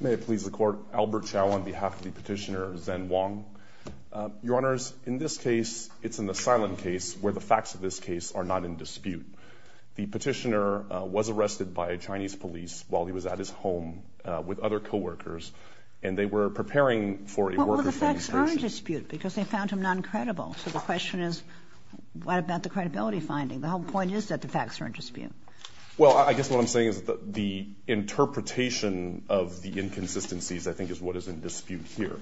May it please the Court, Albert Chow on behalf of the petitioner, Zen Wang. Your Honors, in this case, it's an asylum case where the facts of this case are not in dispute. The petitioner was arrested by a Chinese police while he was at his home with other co-workers, and they were preparing for a worker's demonstration. Well, the facts are in dispute because they found him non-credible, so the question is what about the credibility finding? The whole point is that the facts are in dispute. Well, I guess what I'm saying is that the interpretation of the inconsistencies I think is what is in dispute here,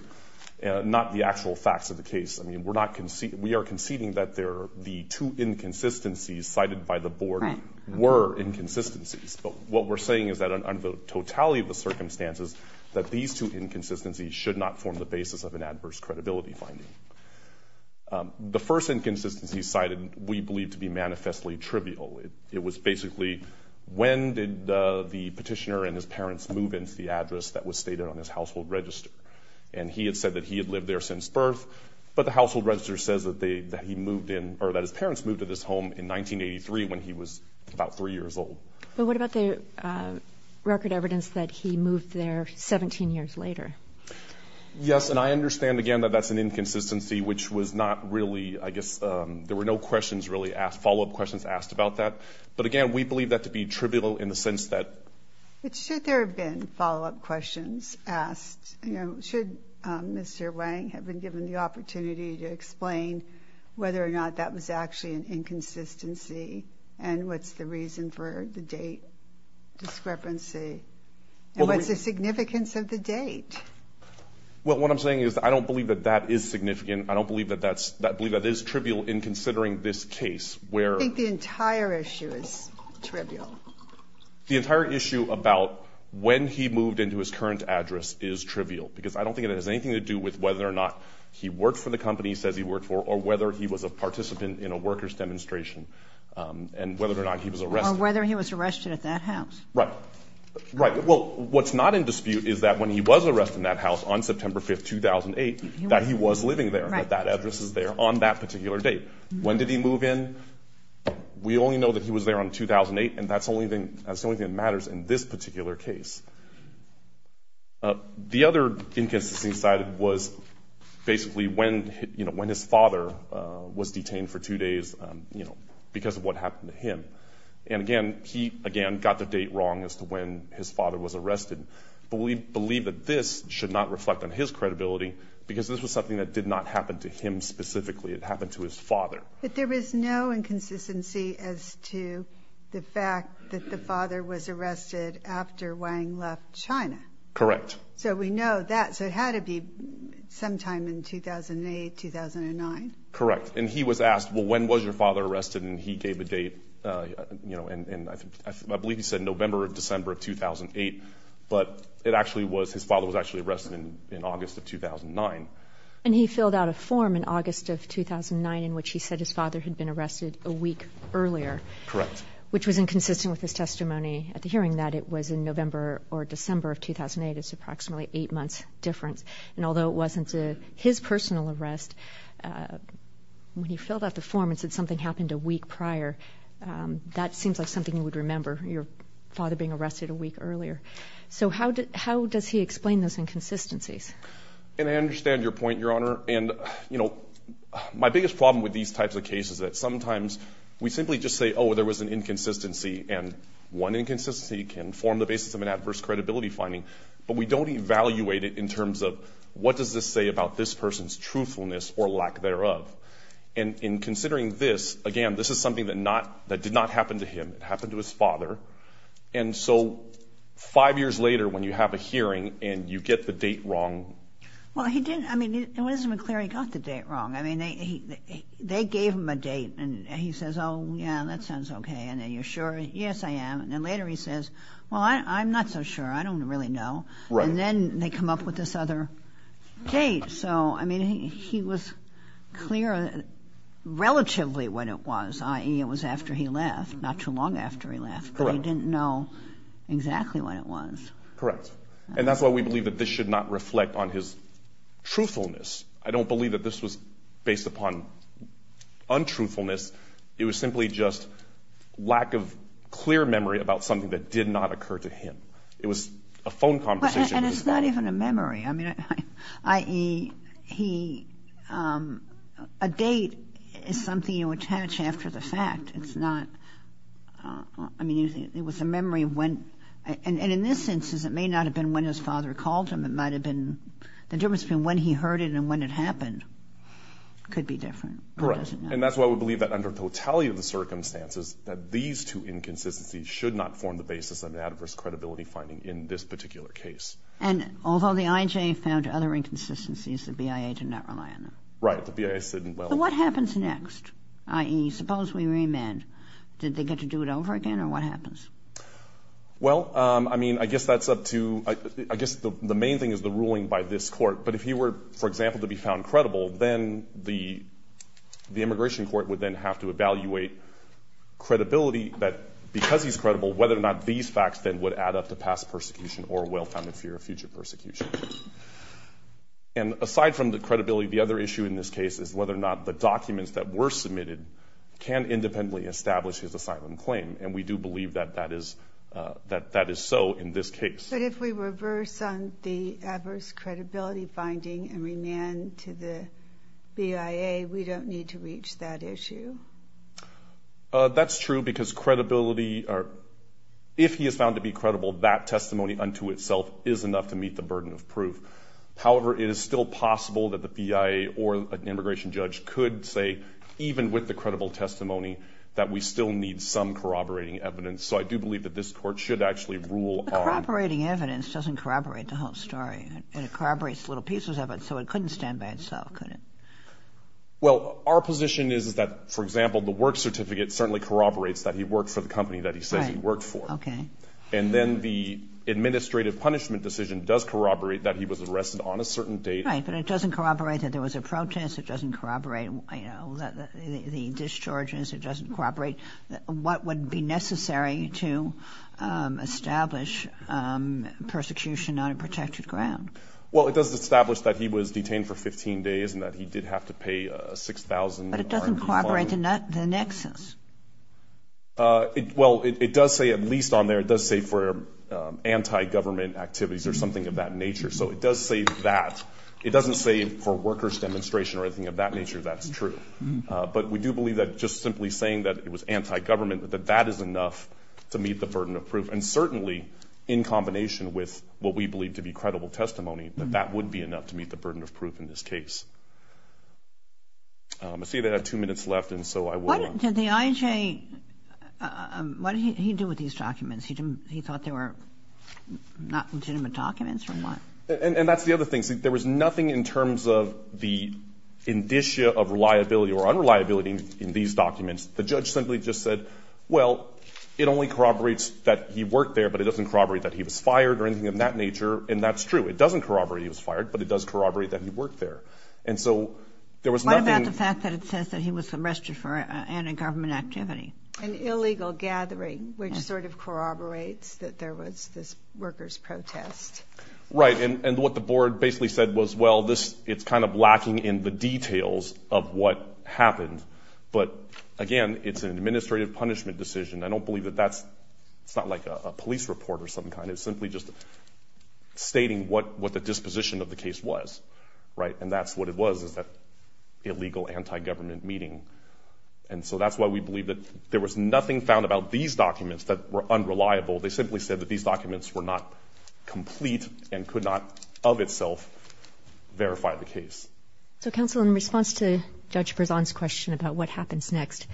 not the actual facts of the case. I mean, we are conceding that the two inconsistencies cited by the Board were inconsistencies, but what we're saying is that under the totality of the circumstances, that these two inconsistencies should not form the basis of an adverse credibility finding. The first inconsistency cited we believe to be manifestly trivial. It was basically when did the petitioner and his parents move into the address that was stated on his household register? And he had said that he had lived there since birth, but the household register says that he moved in or that his parents moved to this home in 1983 when he was about three years old. But what about the record evidence that he moved there 17 years later? Yes, and I understand, again, that that's an inconsistency, which was not really, I guess, there were no questions really asked, follow-up questions asked about that. But, again, we believe that to be trivial in the sense that. But should there have been follow-up questions asked? Should Mr. Wang have been given the opportunity to explain whether or not that was actually an inconsistency and what's the reason for the date discrepancy and what's the significance of the date? Well, what I'm saying is I don't believe that that is significant. And I don't believe that that is trivial in considering this case where. I think the entire issue is trivial. The entire issue about when he moved into his current address is trivial, because I don't think it has anything to do with whether or not he worked for the company he says he worked for or whether he was a participant in a workers' demonstration and whether or not he was arrested. Or whether he was arrested at that house. Right. Right. Well, what's not in dispute is that when he was arrested in that house on September 5th, 2008, that he was living there, that that address is there on that particular date. When did he move in? We only know that he was there on 2008, and that's the only thing that matters in this particular case. The other inconsistency cited was basically when his father was detained for two days because of what happened to him. And, again, he, again, got the date wrong as to when his father was arrested. But we believe that this should not reflect on his credibility, because this was something that did not happen to him specifically. It happened to his father. But there is no inconsistency as to the fact that the father was arrested after Wang left China. Correct. So we know that. So it had to be sometime in 2008, 2009. Correct. And he was asked, well, when was your father arrested? And he gave a date, you know, and I believe he said November or December of 2008. But it actually was his father was actually arrested in August of 2009. And he filled out a form in August of 2009 in which he said his father had been arrested a week earlier. Correct. Which was inconsistent with his testimony at the hearing that it was in November or December of 2008. It's approximately 8 months difference. And although it wasn't his personal arrest, when he filled out the form and said something happened a week prior, that seems like something you would remember, your father being arrested a week earlier. So how does he explain those inconsistencies? And I understand your point, Your Honor. And, you know, my biggest problem with these types of cases is that sometimes we simply just say, oh, there was an inconsistency, and one inconsistency can form the basis of an adverse credibility finding. But we don't evaluate it in terms of what does this say about this person's truthfulness or lack thereof. And in considering this, again, this is something that did not happen to him. It happened to his father. And so five years later when you have a hearing and you get the date wrong. Well, he didn't. I mean, it wasn't clear he got the date wrong. I mean, they gave him a date, and he says, oh, yeah, that sounds okay. And are you sure? Yes, I am. And then later he says, well, I'm not so sure. I don't really know. Right. And then they come up with this other date. So, I mean, he was clear relatively when it was, i.e., it was after he left, not too long after he left. Correct. But he didn't know exactly when it was. Correct. And that's why we believe that this should not reflect on his truthfulness. I don't believe that this was based upon untruthfulness. It was simply just lack of clear memory about something that did not occur to him. It was a phone conversation. And it's not even a memory. I mean, i.e., he, a date is something you attach after the fact. It's not, I mean, it was a memory of when. And in this instance, it may not have been when his father called him. It might have been, the difference between when he heard it and when it happened could be different. Correct. Or does it not? And that's why we believe that under totality of the circumstances, that these two inconsistencies should not form the basis of an adverse credibility finding in this particular case. And although the I.J. found other inconsistencies, the BIA did not rely on them. Right. The BIA said, well. So what happens next? I.e., suppose we remand. Did they get to do it over again, or what happens? Well, I mean, I guess that's up to, I guess the main thing is the ruling by this Court. But if he were, for example, to be found credible, then the immigration court would then have to evaluate credibility, that because he's credible, whether or not these facts then would add up to past persecution or well-founded fear of future persecution. And aside from the credibility, the other issue in this case is whether or not the documents that were submitted can independently establish his asylum claim. And we do believe that that is so in this case. But if we reverse on the adverse credibility finding and remand to the BIA, we don't need to reach that issue. That's true, because credibility or if he is found to be credible, that testimony unto itself is enough to meet the burden of proof. However, it is still possible that the BIA or an immigration judge could say, even with the credible testimony, that we still need some corroborating evidence. So I do believe that this Court should actually rule on. But corroborating evidence doesn't corroborate the whole story. It corroborates little pieces of it, so it couldn't stand by itself, could it? Well, our position is that, for example, the work certificate certainly corroborates that he worked for the company that he says he worked for. Right, okay. And then the administrative punishment decision does corroborate that he was arrested on a certain date. Right, but it doesn't corroborate that there was a protest. It doesn't corroborate, you know, the discharges. It doesn't corroborate what would be necessary to establish persecution on a protected ground. Well, it does establish that he was detained for 15 days and that he did have to pay $6,000. But it doesn't corroborate the nexus. Well, it does say, at least on there, it does say for anti-government activities or something of that nature. So it does say that. It doesn't say for workers' demonstration or anything of that nature. That's true. But we do believe that just simply saying that it was anti-government, that that is enough to meet the burden of proof. And certainly, in combination with what we believe to be credible testimony, that that would be enough to meet the burden of proof in this case. I see that I have two minutes left, and so I will. What did the IHA, what did he do with these documents? He thought they were legitimate documents or what? And that's the other thing. See, there was nothing in terms of the indicia of reliability or unreliability in these documents. The judge simply just said, well, it only corroborates that he worked there, but it doesn't corroborate that he was fired or anything of that nature. And that's true. It doesn't corroborate he was fired, but it does corroborate that he worked there. And so there was nothing. What about the fact that it says that he was arrested for anti-government activity? An illegal gathering, which sort of corroborates that there was this workers' protest. Right. And what the board basically said was, well, it's kind of lacking in the details of what happened. But, again, it's an administrative punishment decision. I don't believe that that's, it's not like a police report or some kind. It's simply just stating what the disposition of the case was. Right. And that's what it was, is that illegal anti-government meeting. And so that's why we believe that there was nothing found about these documents that were unreliable. They simply said that these documents were not complete and could not of itself verify the case. So, counsel, in response to Judge Berzon's question about what happens next,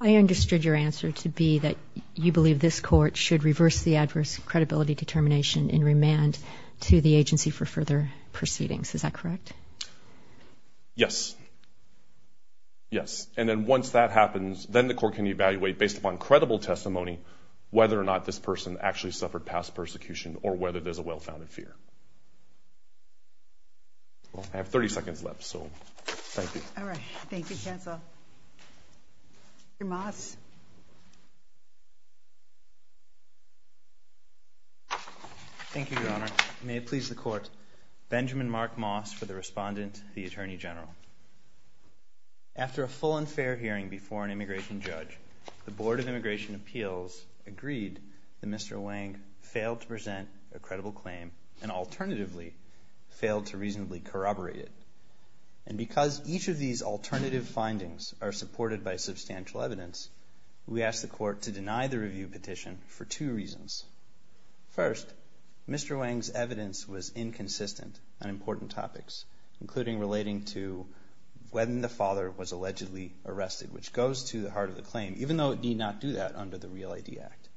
I understood your answer to be that you believe this court should reverse the adverse credibility determination in remand to the agency for further proceedings. Is that correct? Yes. Yes. And then once that happens, then the court can evaluate, based upon credible testimony, whether or not this person actually suffered past persecution or whether there's a well-founded fear. Well, I have 30 seconds left, so thank you. All right. Thank you, counsel. Mr. Moss. Thank you, Your Honor. May it please the court, Benjamin Mark Moss for the respondent, the Attorney General. After a full and fair hearing before an immigration judge, the Board of Immigration Appeals agreed that Mr. Wang failed to present a review petition and, alternatively, failed to reasonably corroborate it. And because each of these alternative findings are supported by substantial evidence, we asked the court to deny the review petition for two reasons. First, Mr. Wang's evidence was inconsistent on important topics, including relating to when the father was allegedly arrested, which goes to the heart of the claim, even though it need not do that under the REAL ID Act.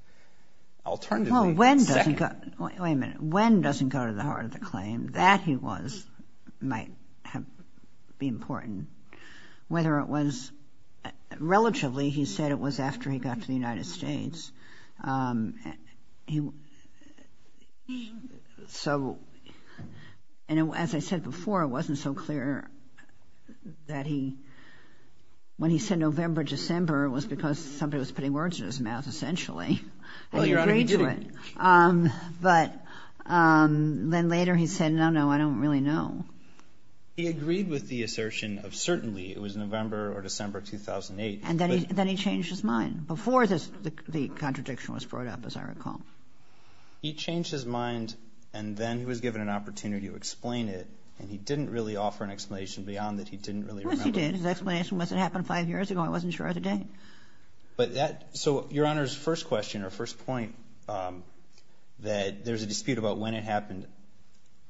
Alternatively, second. Wait a minute. When doesn't go to the heart of the claim. That he was might be important. Whether it was relatively, he said it was after he got to the United States. So, as I said before, it wasn't so clear that he, when he said November, December, it was because somebody was putting words in his mouth, essentially. But then later he said, no, no, I don't really know. He agreed with the assertion of certainly it was November or December 2008. And then he changed his mind before the contradiction was brought up, as I recall. He changed his mind, and then he was given an opportunity to explain it, and he didn't really offer an explanation beyond that he didn't really remember. Well, he did. His explanation was it happened five years ago. I wasn't sure of the date. But that, so, Your Honor's first question or first point, that there's a dispute about when it happened.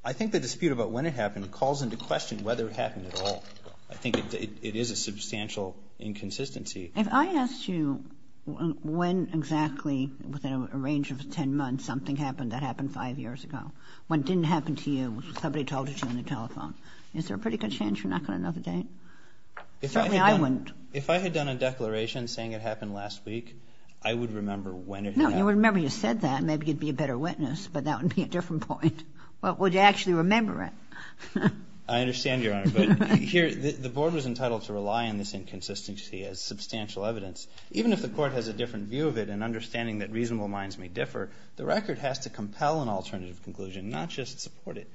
I think the dispute about when it happened calls into question whether it happened at all. I think it is a substantial inconsistency. If I asked you when exactly, within a range of 10 months, something happened that happened five years ago, when it didn't happen to you, somebody told you to on the telephone, is there a pretty good chance you're not going to know the date? Certainly I wouldn't. If I had done a declaration saying it happened last week, I would remember when it happened. No, you wouldn't remember you said that. Maybe you'd be a better witness, but that would be a different point. Well, would you actually remember it? I understand, Your Honor. But here, the Board was entitled to rely on this inconsistency as substantial evidence. Even if the Court has a different view of it and understanding that reasonable minds may differ, the record has to compel an alternative conclusion, not just support it.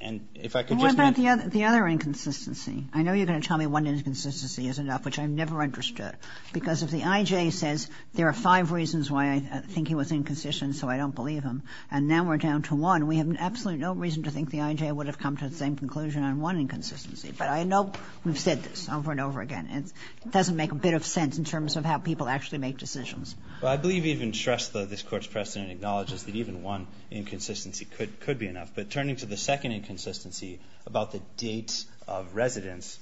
And if I could just mention the other inconsistency. I know you're going to tell me one inconsistency is enough, which I've never understood. Because if the I.J. says there are five reasons why I think he was inconsistent so I don't believe him, and now we're down to one, we have absolutely no reason to think the I.J. would have come to the same conclusion on one inconsistency. But I know we've said this over and over again. It doesn't make a bit of sense in terms of how people actually make decisions. Well, I believe even Shrestha, this Court's precedent, acknowledges that even one inconsistency could be enough. But turning to the second inconsistency about the date of residence,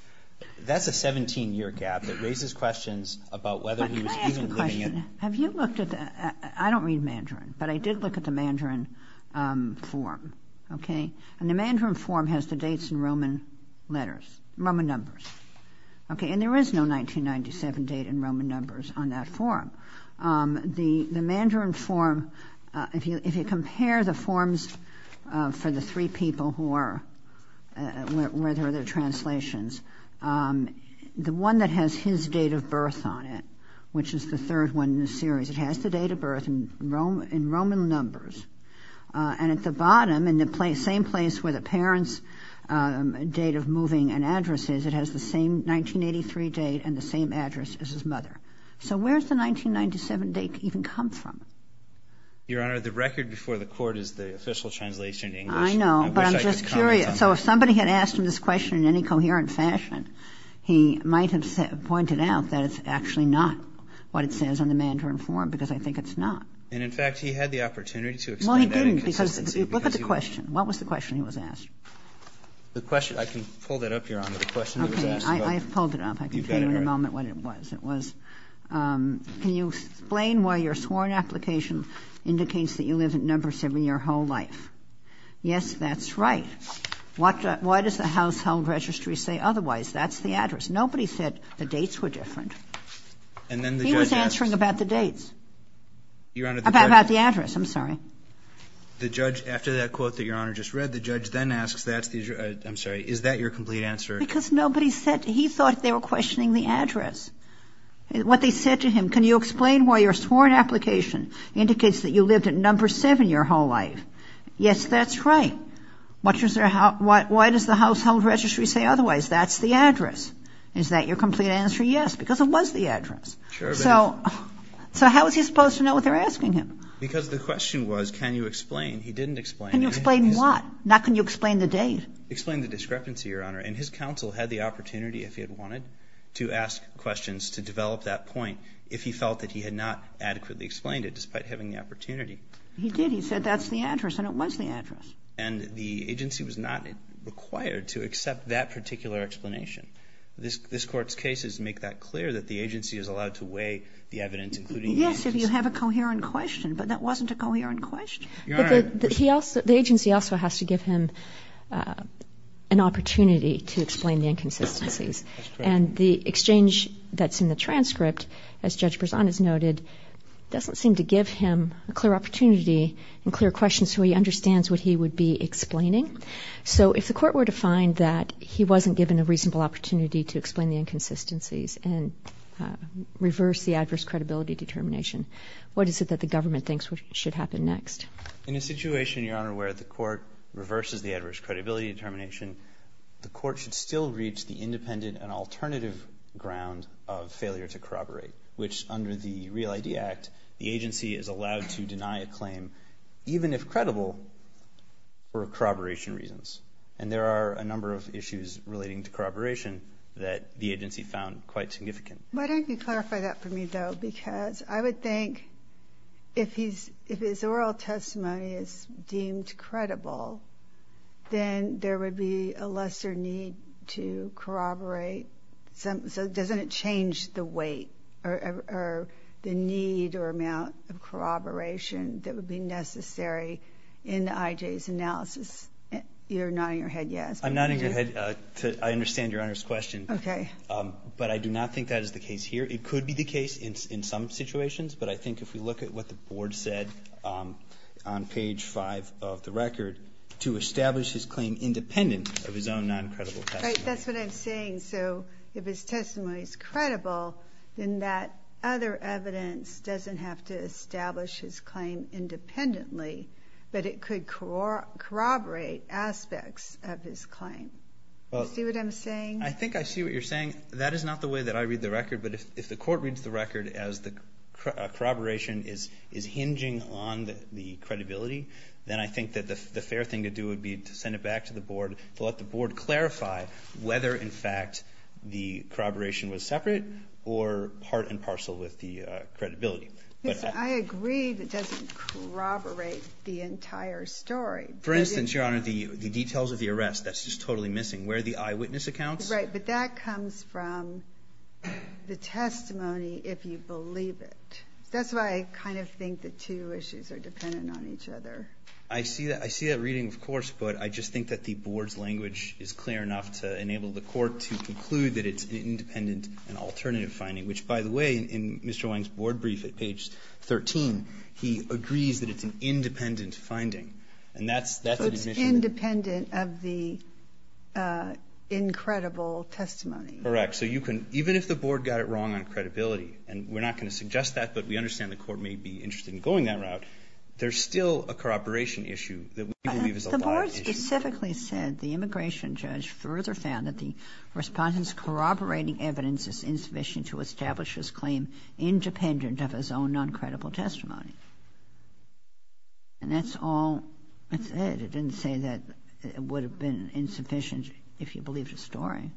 that's a 17-year gap that raises questions about whether he was even living in. I have a question. Have you looked at the – I don't read Mandarin, but I did look at the Mandarin form. Okay? And the Mandarin form has the dates in Roman letters, Roman numbers. Okay? And there is no 1997 date in Roman numbers on that form. The Mandarin form, if you compare the forms for the three people who are – where there are their translations, the one that has his date of birth on it, which is the third one in the series, it has the date of birth in Roman numbers. And at the bottom, in the same place where the parents' date of moving and address is, it has the same 1983 date and the same address as his mother. So where does the 1997 date even come from? Your Honor, the record before the court is the official translation in English. I know, but I'm just curious. I wish I could comment on that. So if somebody had asked him this question in any coherent fashion, he might have pointed out that it's actually not what it says on the Mandarin form, because I think it's not. And, in fact, he had the opportunity to explain that inconsistency. Well, he didn't, because look at the question. What was the question he was asked? The question – I can pull that up, Your Honor, the question he was asked. I pulled it up. I can tell you in a moment what it was. It was, can you explain why your sworn application indicates that you live in Number 7 your whole life? Yes, that's right. Why does the household registry say otherwise? That's the address. Nobody said the dates were different. He was answering about the dates. About the address. I'm sorry. The judge, after that quote that Your Honor just read, the judge then asks, that's the – I'm sorry. Is that your complete answer? Because nobody said – he thought they were questioning the address. What they said to him, can you explain why your sworn application indicates that you lived in Number 7 your whole life? Yes, that's right. Why does the household registry say otherwise? That's the address. Is that your complete answer? Yes, because it was the address. So how was he supposed to know what they were asking him? Because the question was, can you explain? He didn't explain. Not can you explain the date. Explain the discrepancy, Your Honor. And his counsel had the opportunity, if he had wanted, to ask questions to develop that point if he felt that he had not adequately explained it, despite having the opportunity. He did. He said, that's the address. And it was the address. And the agency was not required to accept that particular explanation. This Court's case is to make that clear, that the agency is allowed to weigh the evidence, including the answers. Yes, if you have a coherent question. But that wasn't a coherent question. Your Honor. The agency also has to give him an opportunity to explain the inconsistencies. That's correct. And the exchange that's in the transcript, as Judge Berzon has noted, doesn't seem to give him a clear opportunity and clear questions so he understands what he would be explaining. So if the Court were to find that he wasn't given a reasonable opportunity to explain the inconsistencies and reverse the adverse credibility determination, what is it that the government thinks should happen next? In a situation, Your Honor, where the Court reverses the adverse credibility determination, the Court should still reach the independent and alternative ground of failure to corroborate. Which, under the Real ID Act, the agency is allowed to deny a claim, even if credible, for corroboration reasons. And there are a number of issues relating to corroboration that the agency found quite significant. Why don't you clarify that for me, though? Because I would think if his oral testimony is deemed credible, then there would be a lesser need to corroborate. So doesn't it change the weight or the need or amount of corroboration that would be necessary in the IJ's analysis? You're nodding your head yes. I'm nodding your head to I understand Your Honor's question. Okay. But I do not think that is the case here. It could be the case in some situations, but I think if we look at what the Board said on page 5 of the record, to establish his claim independent of his own non-credible testimony. Right, that's what I'm saying. So if his testimony is credible, then that other evidence doesn't have to establish his claim independently, but it could corroborate aspects of his claim. Do you see what I'm saying? I think I see what you're saying. That is not the way that I read the record, but if the Court reads the record as the corroboration is hinging on the credibility, then I think that the fair thing to do would be to send it back to the Board to let the Board clarify whether, in fact, the corroboration was separate or part and parcel with the credibility. I agree that it doesn't corroborate the entire story. For instance, Your Honor, the details of the arrest, that's just totally missing. Where are the eyewitness accounts? Right. But that comes from the testimony, if you believe it. That's why I kind of think the two issues are dependent on each other. I see that. I see that reading, of course, but I just think that the Board's language is clear enough to enable the Court to conclude that it's an independent and alternative finding, which, by the way, in Mr. Wang's board brief at page 13, he agrees that it's an independent finding. And that's an admission. Independent of the incredible testimony. Correct. So you can, even if the Board got it wrong on credibility, and we're not going to suggest that, but we understand the Court may be interested in going that route, there's still a corroboration issue that we believe is a live issue. The Board specifically said the immigration judge further found that the respondent's corroborating evidence is insufficient to establish his claim independent of his own non-credible testimony. And that's all it said. It didn't say that it would have been insufficient if you believed his story.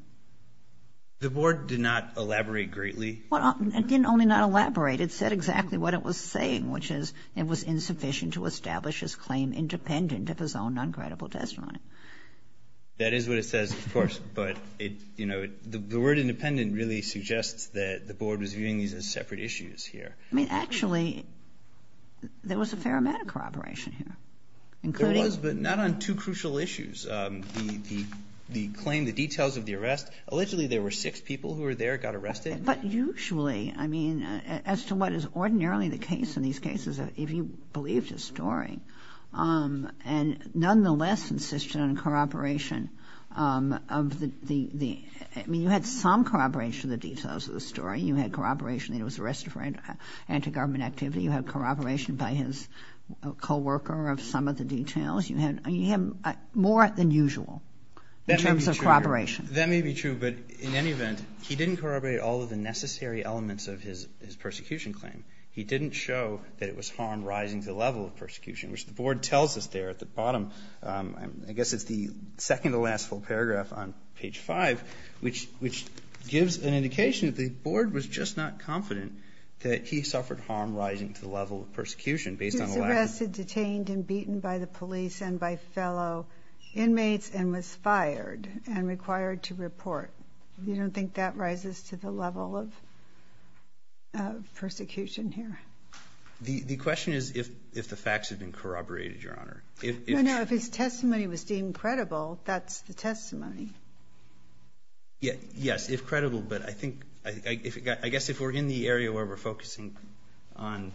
The Board did not elaborate greatly. Well, it didn't only not elaborate. It said exactly what it was saying, which is it was insufficient to establish his claim independent of his own non-credible testimony. That is what it says, of course, but it, you know, the word independent really suggests that the Board was viewing these as separate issues here. I mean, actually, there was a fair amount of corroboration here, including There was, but not on two crucial issues. The claim, the details of the arrest, allegedly there were six people who were there, got arrested. But usually, I mean, as to what is ordinarily the case in these cases, if you believed his story, and nonetheless insisted on corroboration of the, I mean, you had some corroboration of the details of the story. You had corroboration that he was arrested for anti-government activity. You had corroboration by his coworker of some of the details. You had more than usual in terms of corroboration. That may be true, but in any event, he didn't corroborate all of the necessary elements of his persecution claim. He didn't show that it was harm rising to the level of persecution, which the Board tells us there at the bottom. I guess it's the second to last full paragraph on page 5, which gives an indication that the Board was just not confident that he suffered harm rising to the level of persecution based on the lack of ---- He was arrested, detained, and beaten by the police and by fellow inmates and was fired and required to report. You don't think that rises to the level of persecution here? The question is if the facts have been corroborated, Your Honor. No, no. If his testimony was deemed credible, that's the testimony. Yes, if credible. But I think ---- I guess if we're in the area where we're focusing on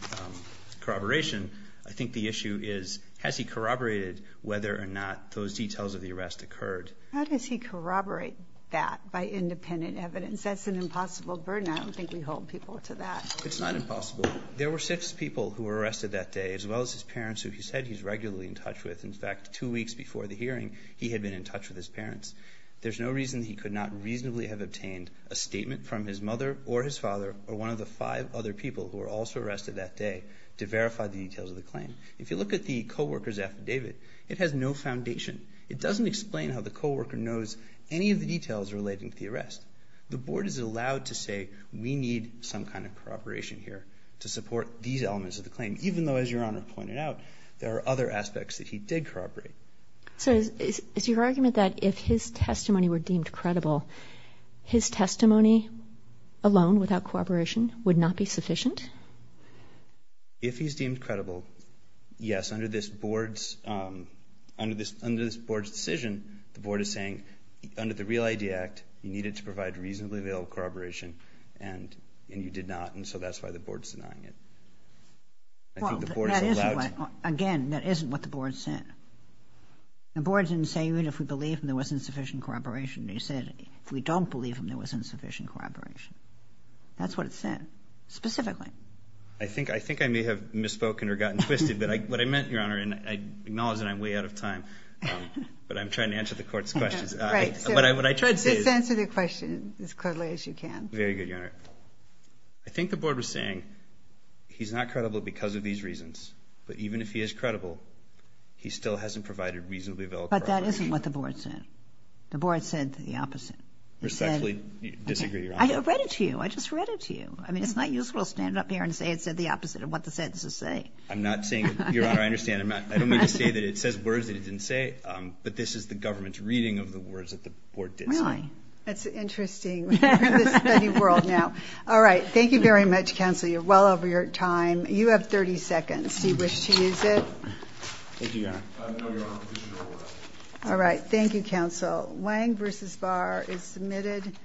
corroboration, I think the issue is has he corroborated whether or not those details of the arrest occurred. How does he corroborate that by independent evidence? That's an impossible burden. I don't think we hold people to that. It's not impossible. There were six people who were arrested that day as well as his parents who he said he's regularly in touch with. In fact, two weeks before the hearing, he had been in touch with his parents. There's no reason he could not reasonably have obtained a statement from his mother or his father or one of the five other people who were also arrested that day to verify the details of the claim. If you look at the co-worker's affidavit, it has no foundation. It doesn't explain how the co-worker knows any of the details relating to the arrest. The Board is allowed to say we need some kind of corroboration here to support these elements of the claim, even though, as Your Honor pointed out, there are other aspects that he did corroborate. So is your argument that if his testimony were deemed credible, his testimony alone without corroboration would not be sufficient? If he's deemed credible, yes, under this Board's decision, the Board is saying, under the Real ID Act, you needed to provide reasonably available corroboration and you did not, and so that's why the Board's denying it. Well, that isn't what, again, that isn't what the Board said. The Board didn't say even if we believe him, there wasn't sufficient corroboration. They said if we don't believe him, there wasn't sufficient corroboration. That's what it said, specifically. I think I may have misspoken or gotten twisted, but what I meant, Your Honor, and I acknowledge that I'm way out of time, but I'm trying to answer the Court's questions, but what I tried to say is... Just answer the question as clearly as you can. Very good, Your Honor. I think the Board was saying he's not credible because of these reasons, but even if he is credible, he still hasn't provided reasonably available corroboration. But that isn't what the Board said. The Board said the opposite. Respectfully disagree, Your Honor. I read it to you. I just read it to you. I mean, it's not useful to stand up here and say it said the opposite of what the sentences say. I'm not saying, Your Honor, I understand. I don't mean to say that it says words that it didn't say, but this is the Government's reading of the words that the Board did say. Really? That's interesting. We're in the study world now. All right. Thank you very much, Counsel. You're well over your time. You have 30 seconds. Do you wish to use it? Thank you, Your Honor. No, Your Honor. I wish to use it. All right. Thank you, Counsel. Wang v. Barr is submitted.